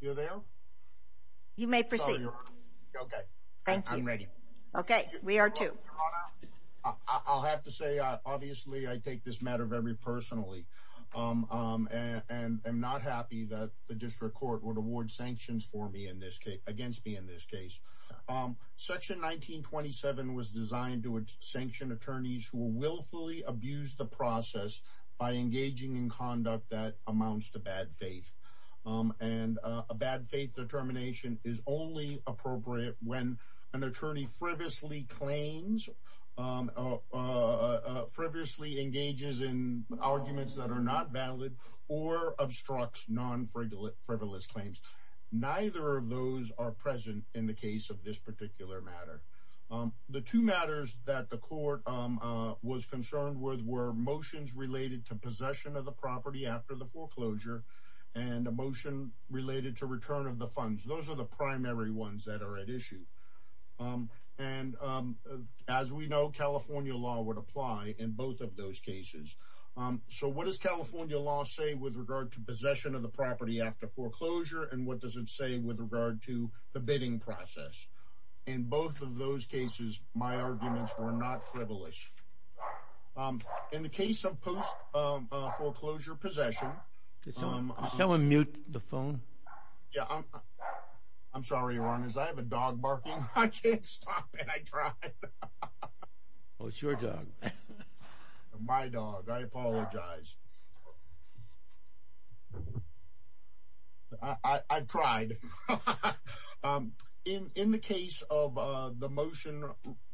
you're there you may proceed okay thank you ready okay we are too I'll have to say obviously I take this matter very personally and I'm not happy that the district court would award sanctions for me in this case against me in this case section 1927 was designed to sanction attorneys who willfully abuse the faith and a bad faith determination is only appropriate when an attorney frivolously claims frivolously engages in arguments that are not valid or obstructs non-frivolous claims neither of those are present in the case of this particular matter the two matters that the court was concerned with were motions related to possession of the property after the foreclosure and a motion related to return of the funds those are the primary ones that are at issue and as we know California law would apply in both of those cases so what does California law say with regard to possession of the property after foreclosure and what does it say with regard to the bidding process in both of foreclosure possession someone mute the phone yeah I'm sorry Ron is I have a dog barking I can't stop and I try oh it's your job my dog I apologize I tried in in the case of the motion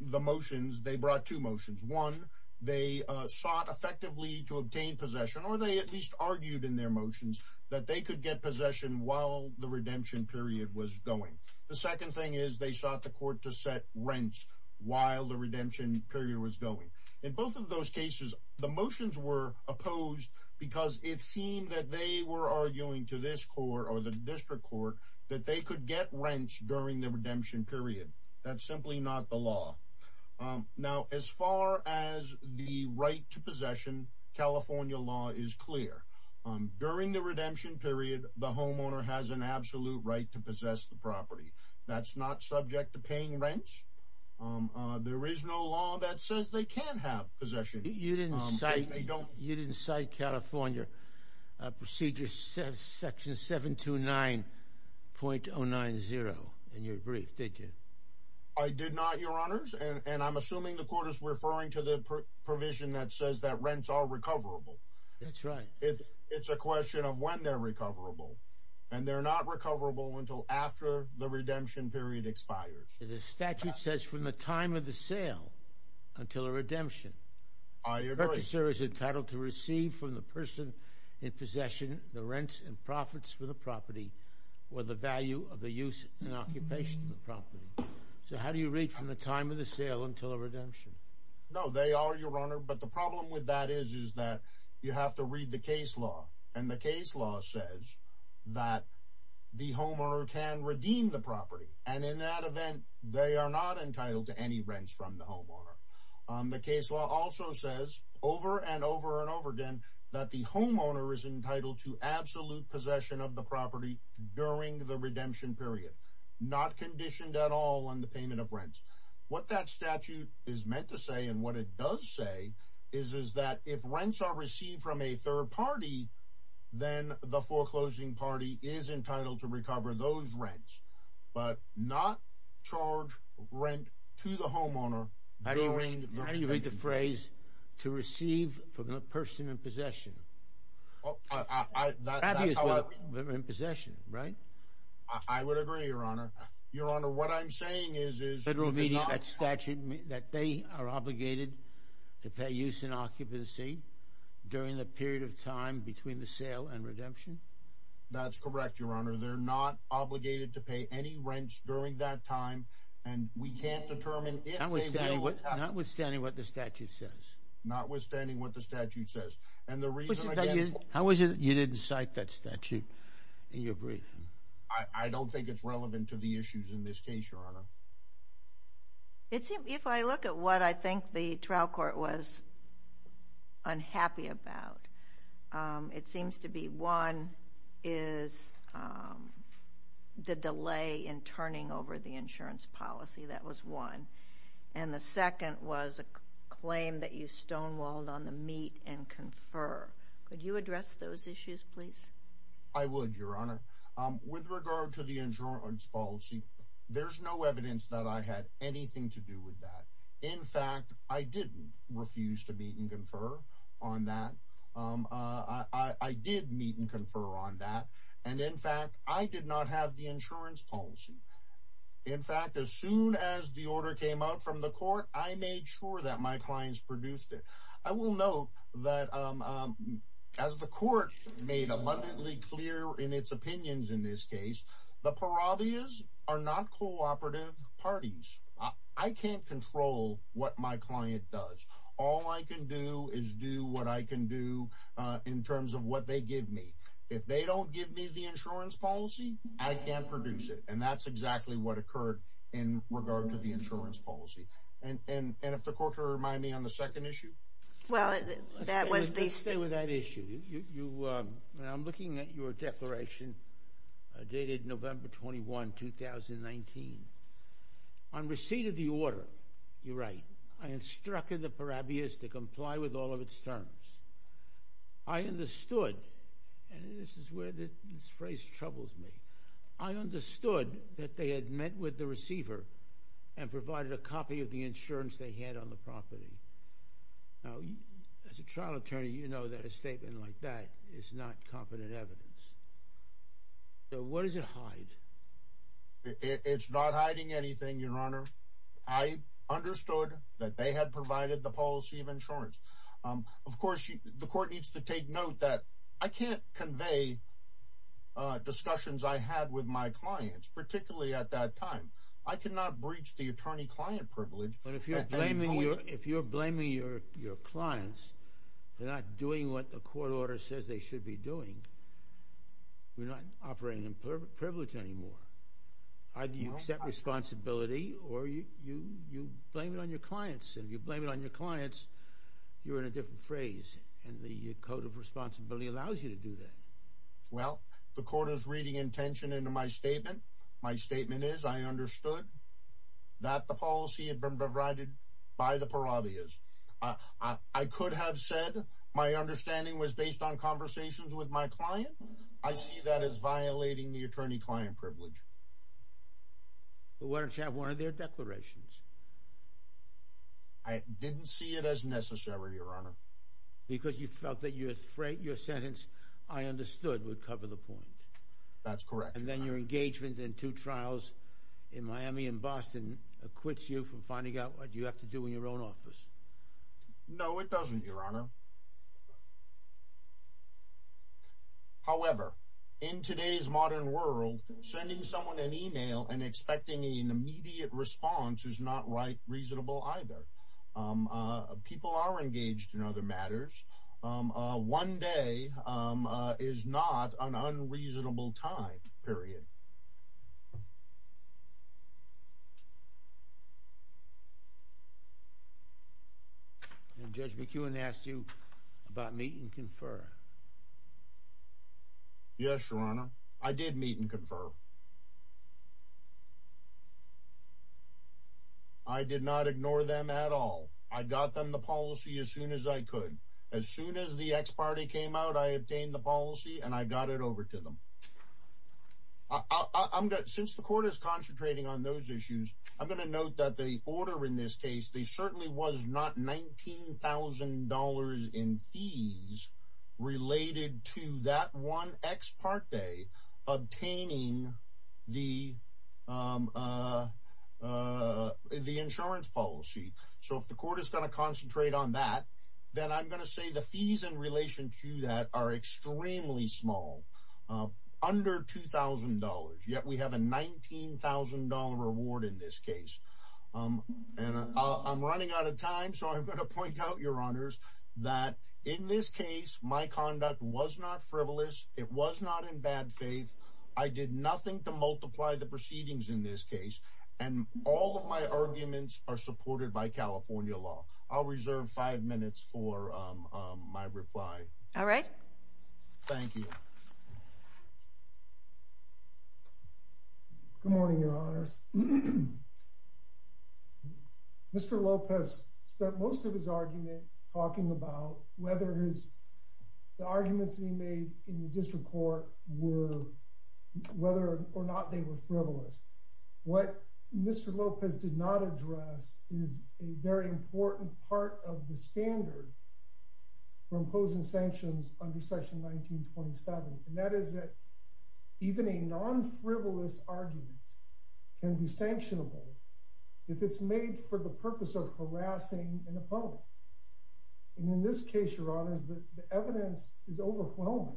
the motions they brought two motions one they sought effectively to obtain possession or they at least argued in their motions that they could get possession while the redemption period was going the second thing is they sought the court to set rents while the redemption period was going in both of those cases the motions were opposed because it seemed that they were arguing to this court or the district court that they could get rents during the redemption period that's simply not the law now as far as the right to possession California law is clear during the redemption period the homeowner has an absolute right to possess the property that's not subject to paying rents there is no law that says they can't have possession you didn't say they don't you didn't say California procedure says section seven to nine point oh nine zero and your brief did you I did not your honors and provision that says that rents are recoverable that's right it's a question of when they're recoverable and they're not recoverable until after the redemption period expires the statute says from the time of the sale until a redemption is entitled to receive from the person in possession the rents and profits for the property or the value of the use and occupation the property so they are your honor but the problem with that is is that you have to read the case law and the case law says that the homeowner can redeem the property and in that event they are not entitled to any rents from the homeowner the case law also says over and over and over again that the homeowner is entitled to absolute possession of the property during the redemption period not conditioned at all on the payment of rents what that statute is meant to say and what it does say is is that if rents are received from a third party then the foreclosing party is entitled to recover those rents but not charge rent to the homeowner how do you read the phrase to receive from a person in possession in possession right I would agree your honor your honor what I'm that they are obligated to pay use in occupancy during the period of time between the sale and redemption that's correct your honor they're not obligated to pay any rents during that time and we can't determine what notwithstanding what the statute says notwithstanding what the statute says and the reason how was it you didn't cite that statute in your brief I don't think it's relevant to the issues in this case your honor it's if I look at what I think the trial court was unhappy about it seems to be one is the delay in turning over the insurance policy that was one and the second was a claim that you stonewalled on the meat and confer could you address those issues please I would your honor with regard to the insurance policy there's no evidence that I had anything to do with that in fact I didn't refuse to meet and confer on that I did meet and confer on that and in fact I did not have the insurance policy in fact as soon as the order came out from the court I made sure that my clients clear in its opinions in this case the parabolas are not cooperative parties I can't control what my client does all I can do is do what I can do in terms of what they give me if they don't give me the insurance policy I can't produce it and that's exactly what occurred in regard to the insurance policy and and and if the court to remind me on the second issue well that was they say with that issue you I'm looking at your declaration dated November 21 2019 on receipt of the order you're right I instructed the parabolas to comply with all of its terms I understood and this is where this phrase troubles me I understood that they had met with the receiver and provided a copy of the statement like that it's not confident evidence so what does it hide it's not hiding anything your honor I understood that they had provided the policy of insurance of course the court needs to take note that I can't convey discussions I had with my clients particularly at that time I cannot breach the attorney-client privilege but if you're blaming you if you're blaming your your clients they're not doing what the court order says they should be doing we're not operating in perfect privilege anymore I do you accept responsibility or you you blame it on your clients and you blame it on your clients you're in a different phrase and the code of responsibility allows you to do that well the court is reading intention into my statement my statement is I understood that the policy had been provided by the parabolas I could have said my understanding was based on conversations with my client I see that as violating the attorney-client privilege but why don't you have one of their declarations I didn't see it as necessary your honor because you felt that you're afraid your sentence I understood would cover the point that's your engagement in two trials in Miami and Boston acquits you from finding out what you have to do in your own office no it doesn't your honor however in today's modern world sending someone an email and expecting an immediate response is not right reasonable either people are engaged in other matters one day is not an unreasonable time period judge McEwen asked you about meeting confer yes your honor I did meet and confer I did not ignore them at all I got them the policy as soon as I could as soon as the ex parte came out I obtained the policy and I got it over to them I'm good since the court is concentrating on those issues I'm going to note that the order in this case they certainly was not $19,000 in fees related to that one ex parte obtaining the the insurance policy so if the court is going to concentrate on that then I'm going to say the fees in relation to that are extremely small under $2,000 yet we have a $19,000 reward in this case and I'm running out of time so I'm going to point out your honors that in this case my conduct was not frivolous it was not in bad faith I did nothing to multiply the proceedings in this case and all of my arguments are supported by California law I'll reserve five minutes for my reply all right thank you good morning your honors mr. Lopez spent most of his argument talking about whether his the arguments he made in the district court were whether or not they were frivolous what mr. Lopez did not address is a very important part of the standard for imposing sanctions under section 1927 and that is that even a non-frivolous argument can be sanctionable if it's made for the purpose of harassing an opponent and in this case your honors that the evidence is overwhelming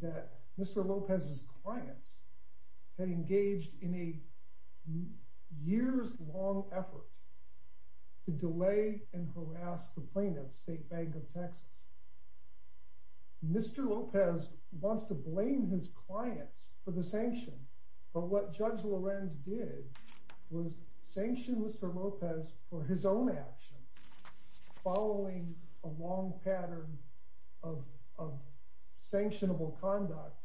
that mr. Lopez's clients had engaged in a years-long effort to delay and harass the plaintiff State Bank of Texas mr. Lopez wants to blame his clients for the sanction but what judge Lorenz did was sanction mr. Lopez for his own actions following a long pattern of sanctionable conduct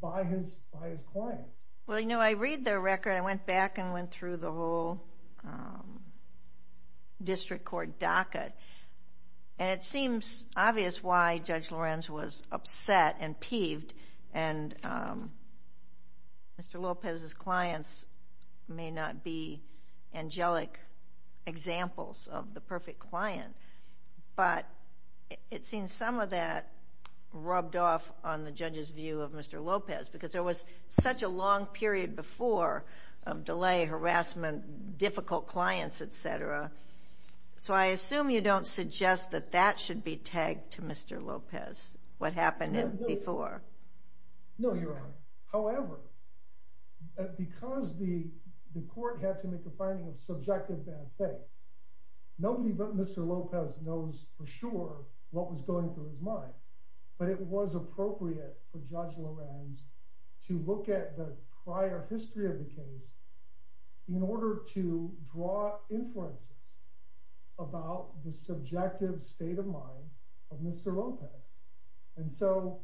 by his by his clients well you know I read their record I went back and went through the whole district court docket and it seems obvious why judge Lorenz was examples of the perfect client but it seems some of that rubbed off on the judge's view of mr. Lopez because there was such a long period before delay harassment difficult clients etc so I assume you don't suggest that that should be tagged to mr. Lopez what happened in before no however because the court had to make a finding of subjective bad faith nobody but mr. Lopez knows for sure what was going through his mind but it was appropriate for judge Lorenz to look at the prior history of the case in order to draw inferences about the subjective state of mind of mr. Lopez and so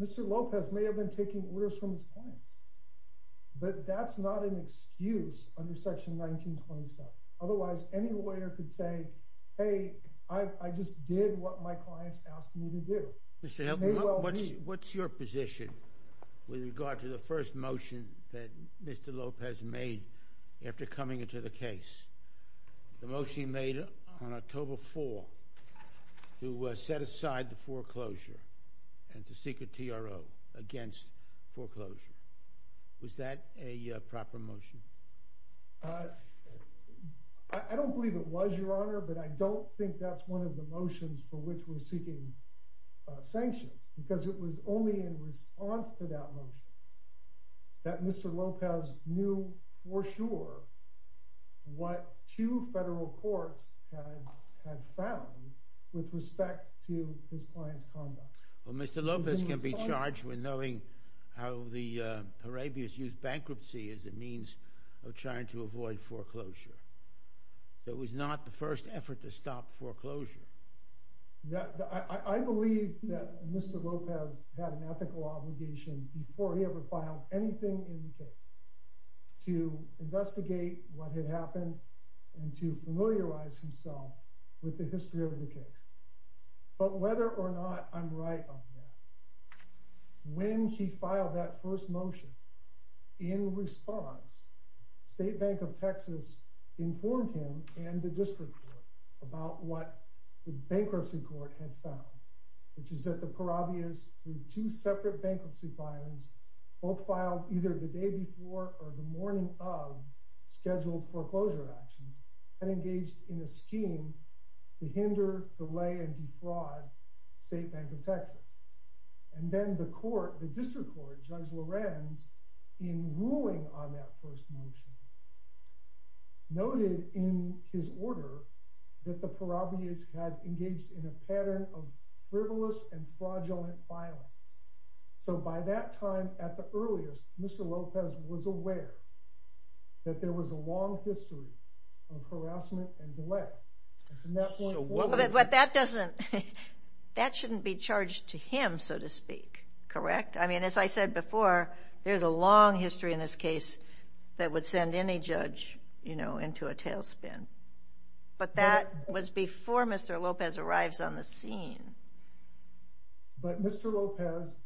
mr. Lopez may have been taking orders from his clients but that's not an excuse under section 1927 otherwise any lawyer could say hey I just did what my clients asked me to do what's your position with regard to the first motion that mr. Lopez made after coming into the case the motion made on October 4 who set aside the foreclosure and the secret TRO against foreclosure was that a proper motion I don't believe it was your honor but I don't think that's one of the motions for which we're seeking sanctions because it was only in response to that motion that mr. Lopez knew for sure what two federal courts had found with respect to his clients conduct well mr. Lopez can be charged with knowing how the Arabians use bankruptcy as a means of trying to avoid foreclosure it was not the first effort to stop foreclosure yeah I believe that mr. Lopez had an ethical obligation before he ever filed anything in the investigate what had happened and to familiarize himself with the history of the case but whether or not I'm right on that when he filed that first motion in response State Bank of Texas informed him and the district court about what the bankruptcy court had found which is that the parabias through two separate bankruptcy violence both filed either the day before or the morning of scheduled foreclosure actions and engaged in a scheme to hinder delay and defraud State Bank of Texas and then the court the district court judge Lorenz in ruling on that first motion noted in his order that the parabias had engaged in a so by that time at the earliest mr. Lopez was aware that there was a long history of harassment and delay but that doesn't that shouldn't be charged to him so to speak correct I mean as I said before there's a long history in this case that would send any judge you know into a tailspin but that was before mr. Lopez arrives on the scene but mr. Lopez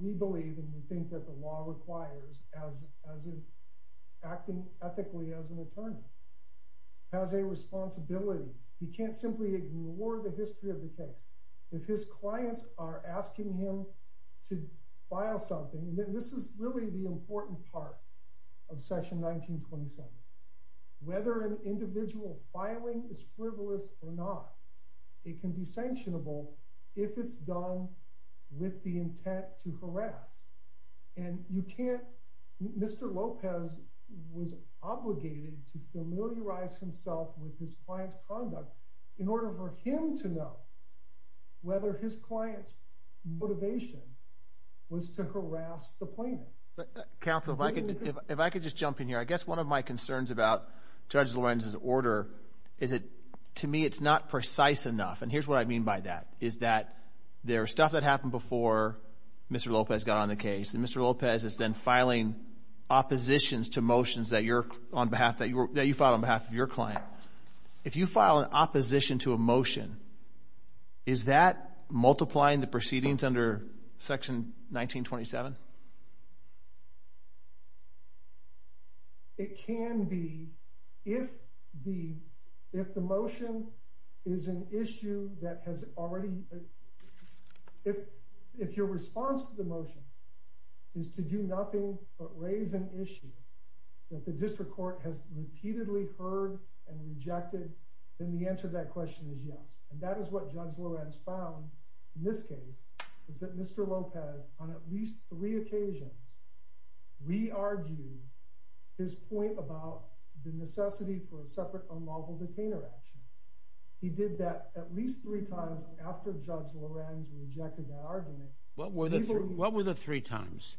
we believe and we think that the law requires as acting ethically as an attorney has a responsibility he can't simply ignore the history of the case if his clients are asking him to file something then this is really the important part of section 1927 whether an individual filing is frivolous or not it can be sanctionable if it's done with the intent to harass and you can't mr. Lopez was obligated to familiarize himself with his clients conduct in order for him to know whether his clients motivation was to harass the plaintiff counsel if I could if I could just jump in here I guess one of my concerns about judge Lorenz order is it to me it's not precise enough and here's what I mean by that is that there are stuff that happened before mr. Lopez got on the case and mr. Lopez is then filing oppositions to motions that you're on behalf that you were that you follow on behalf of your client if you file an opposition to a motion is that multiplying the proceedings under section 1927 it can be if the if the motion is an issue that has already if if your response to the motion is to do nothing but raise an issue that the district court has repeatedly heard and rejected then the answer to that question is yes and that is what judge Lorenz found in this case is that mr. Lopez on at least three occasions we argued his point about the necessity for a separate unlawful detainer action he did that at least three times after judge Lorenz rejected our what were the three what were the three times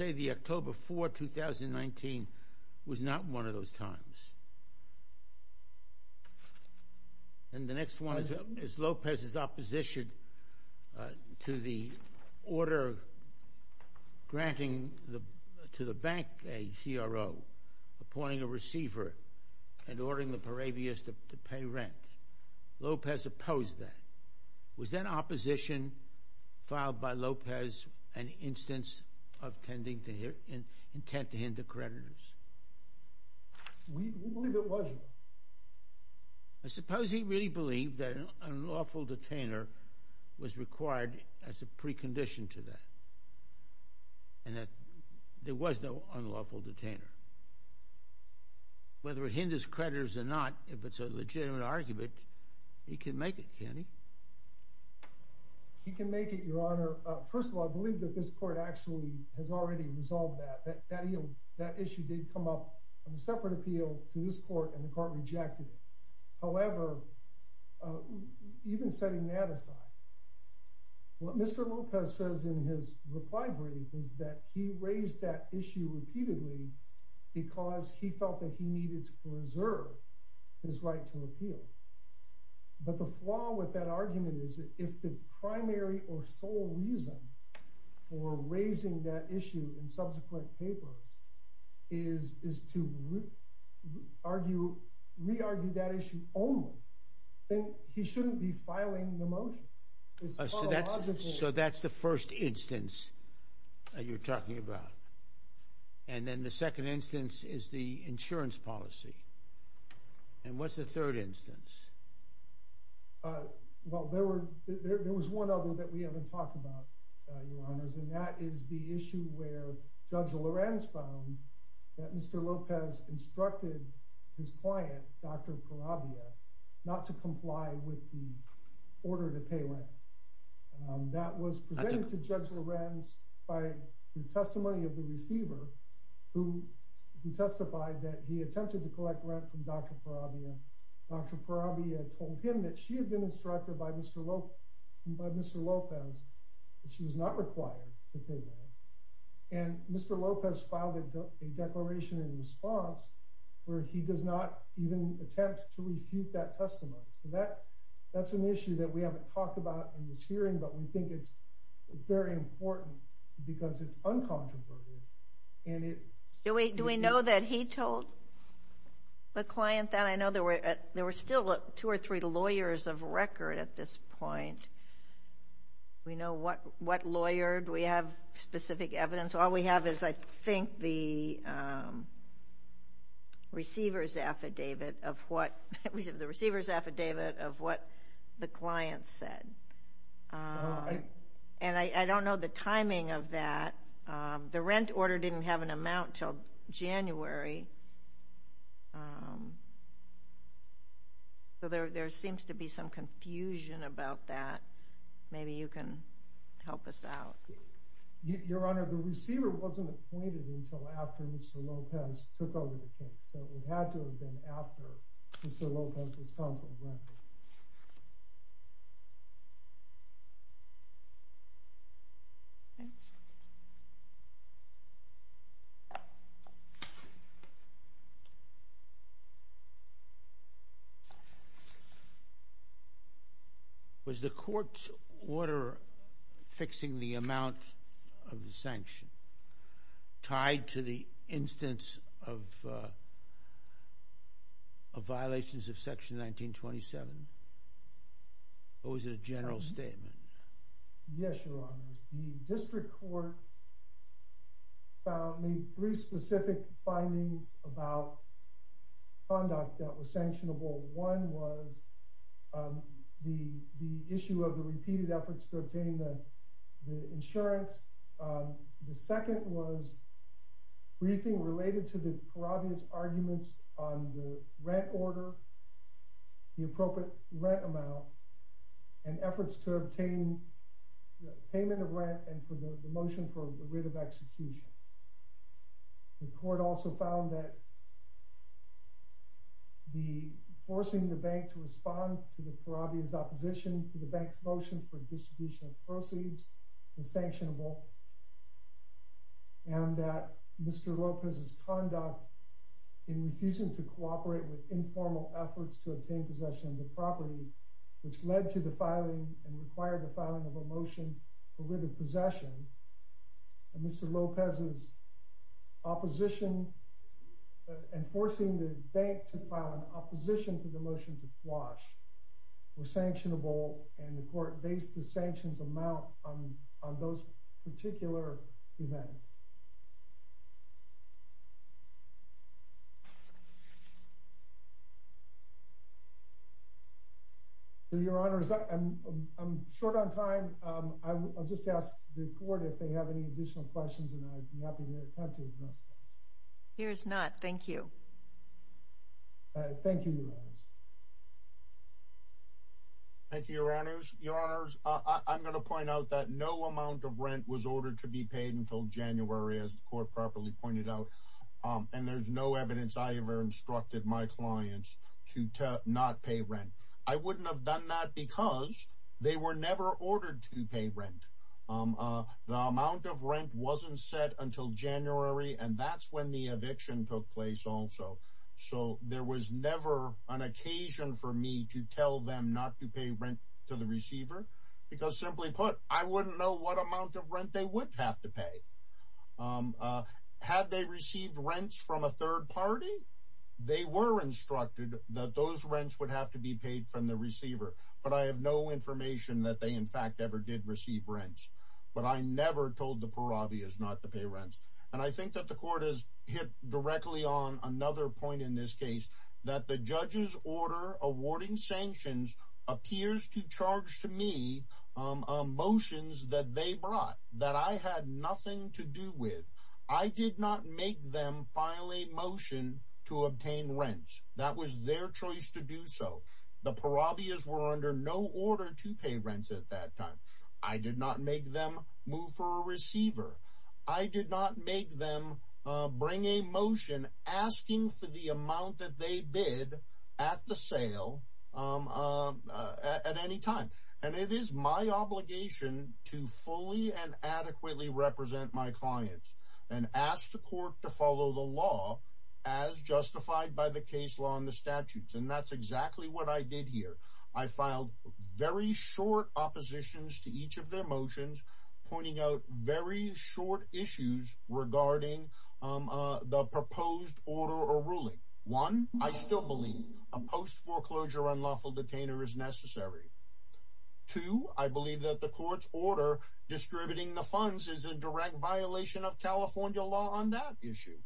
and the next one is Lopez's opposition to the order granting the to the bank a CRO appointing a receiver and ordering the parabias to pay rent Lopez opposed that was then opposition filed by Lopez an instance of tending to hear in intent to hinder creditors I suppose he really believed that an unlawful detainer was required as a precondition to that and that there was no unlawful detainer whether it hinders creditors or not if it's a legitimate argument he can make it can he he can make it your honor first of all I believe that this court actually has already resolved that that issue did come up on a separate appeal to this court and the court rejected it however even setting that aside what mr. Lopez says in his reply brief is that he raised that issue repeatedly because he felt that he needed to preserve his right to appeal but the flaw with that issue in subsequent papers is is to argue re-argue that issue only then he shouldn't be filing the motion so that's so that's the first instance you're talking about and then the second instance is the insurance policy and what's the third instance well there were there was one other that we haven't talked about your honors and that is the issue where judge Lorenz found that mr. Lopez instructed his client dr. Corabia not to comply with the order to pay rent that was presented to judge Lorenz by the testimony of the receiver who testified that he attempted to collect rent from dr. Corabia dr. Corabia told him that she had been instructed by mr. Lope by mr. Lopez she was not required and mr. Lopez filed a declaration in response where he does not even attempt to refute that testimony so that that's an issue that we haven't talked about in this hearing but we think it's very important because it's uncontroversial and it so we do we know that he told the client that I know there were there were still two or three lawyers of record at this point we know what what lawyered we have specific evidence all we have is I think the receivers affidavit of what we have the receivers affidavit of what the client said and I don't know the timing of that the rent order didn't have an amount until January so there there seems to be some confusion about that maybe you can help us out your honor the receiver wasn't appointed until after mr. Lopez took over the case so it had to have been after mr. Lopez was counseled was the court's order fixing the amount of the sanction tied to the instance of violations of section 1927 or was it a general statement yes your honor the specific findings about conduct that was sanctionable one was the the issue of the repeated efforts to obtain the insurance the second was briefing related to the parodies arguments on the rent order the appropriate rent amount and efforts to obtain the payment of rent and for the motion for the writ of execution the court also found that the forcing the bank to respond to the parodies opposition to the bank's motion for distribution of proceeds is sanctionable and that mr. Lopez's conduct in refusing to cooperate with informal efforts to obtain possession of the property which led to the filing and Mr. Lopez's opposition and forcing the bank to file an opposition to the motion to flush were sanctionable and the court based the sanctions amount on those particular events your honor is that I'm short on time I'll just ask the court if they have any questions here's not thank you thank you thank you your honors your honors I'm going to point out that no amount of rent was ordered to be paid until January as the court properly pointed out and there's no evidence I ever instructed my clients to not pay rent I wouldn't have done that because they were never ordered to pay rent the amount of rent wasn't set until January and that's when the eviction took place also so there was never an occasion for me to tell them not to pay rent to the receiver because simply put I wouldn't know what amount of rent they would have to pay had they received rents from a third party they were instructed that those rents would have to be paid from the receiver but I have no information that they in fact ever did receive rents but I never told the parabi is not to pay rents and I think that the court is hit directly on another point in this case that the judges order awarding sanctions appears to charge to me motions that they brought that I had nothing to do with I did not make them file a motion to obtain rents that was their choice to do so the parabi is were no order to pay rent at that time I did not make them move for a receiver I did not make them bring a motion asking for the amount that they bid at the sale at any time and it is my obligation to fully and adequately represent my clients and ask the court to follow the law as justified by the case law and the very short oppositions to each of their motions pointing out very short issues regarding the proposed order or ruling one I still believe a post foreclosure unlawful detainer is necessary to I believe that the court's order distributing the funds is a direct violation of California law on that issue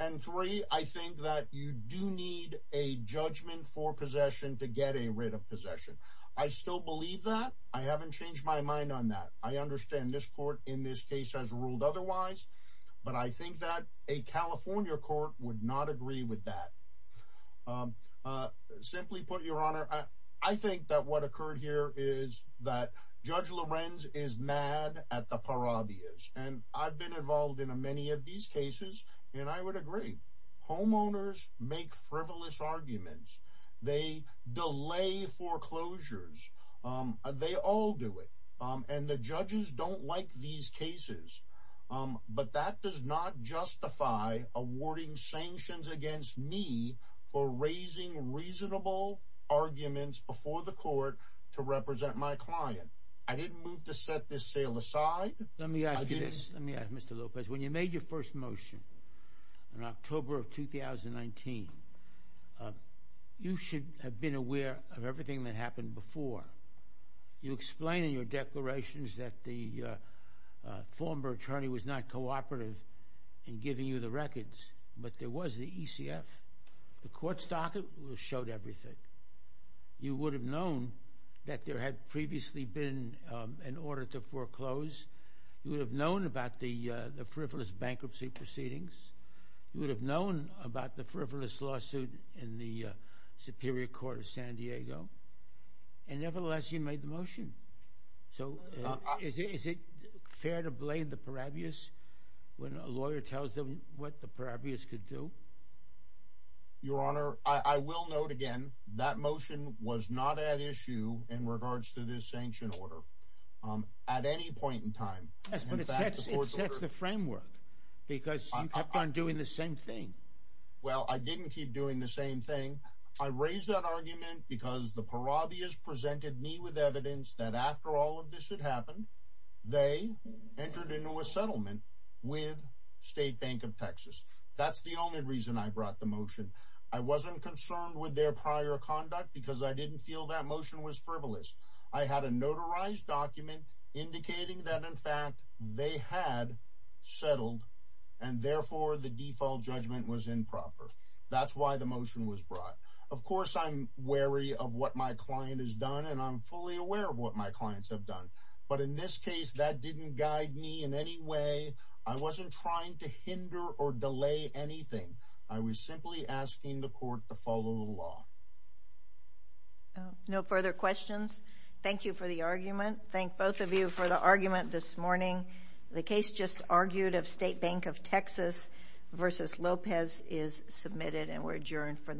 and three I think that you do need a judgment for possession to get a rate of possession I still believe that I haven't changed my mind on that I understand this court in this case has ruled otherwise but I think that a California court would not agree with that simply put your honor I think that what occurred here is that judge Lorenz is mad at the parabi is and I've been involved in many of these cases and I would agree homeowners make frivolous they delay foreclosures they all do it and the judges don't like these cases but that does not justify awarding sanctions against me for raising reasonable arguments before the court to represent my client I didn't move to set this sale aside let me ask you this let me ask mr. Lopez when you made your first motion in October of 2019 you should have been aware of everything that happened before you explain in your declarations that the former attorney was not cooperative in giving you the records but there was the ECF the court stock it was showed everything you would have known that there had previously been an order to foreclose you would have known about the the frivolous bankruptcy proceedings you would have known about the frivolous lawsuit in the Superior Court of San Diego and nevertheless you made the motion so is it fair to blame the parabius when a lawyer tells them what the parabius could do your honor I will note again that motion was not at issue in regards to this sanction order at any point in time the framework because I'm doing the same thing well I didn't keep doing the same thing I raise that argument because the parabius presented me with evidence that after all of this had happened they entered into a settlement with State Bank of Texas that's the only reason I brought the motion I wasn't concerned with their prior conduct because I had a notarized document indicating that in fact they had settled and therefore the default judgment was improper that's why the motion was brought of course I'm wary of what my client is done and I'm fully aware of what my clients have done but in this case that didn't guide me in any way I wasn't trying to hinder or delay anything I was simply asking the court to follow the law no further questions thank you for the argument thank both of you for the argument this morning the case just argued of State Bank of Texas versus Lopez is submitted and we're adjourned for the morning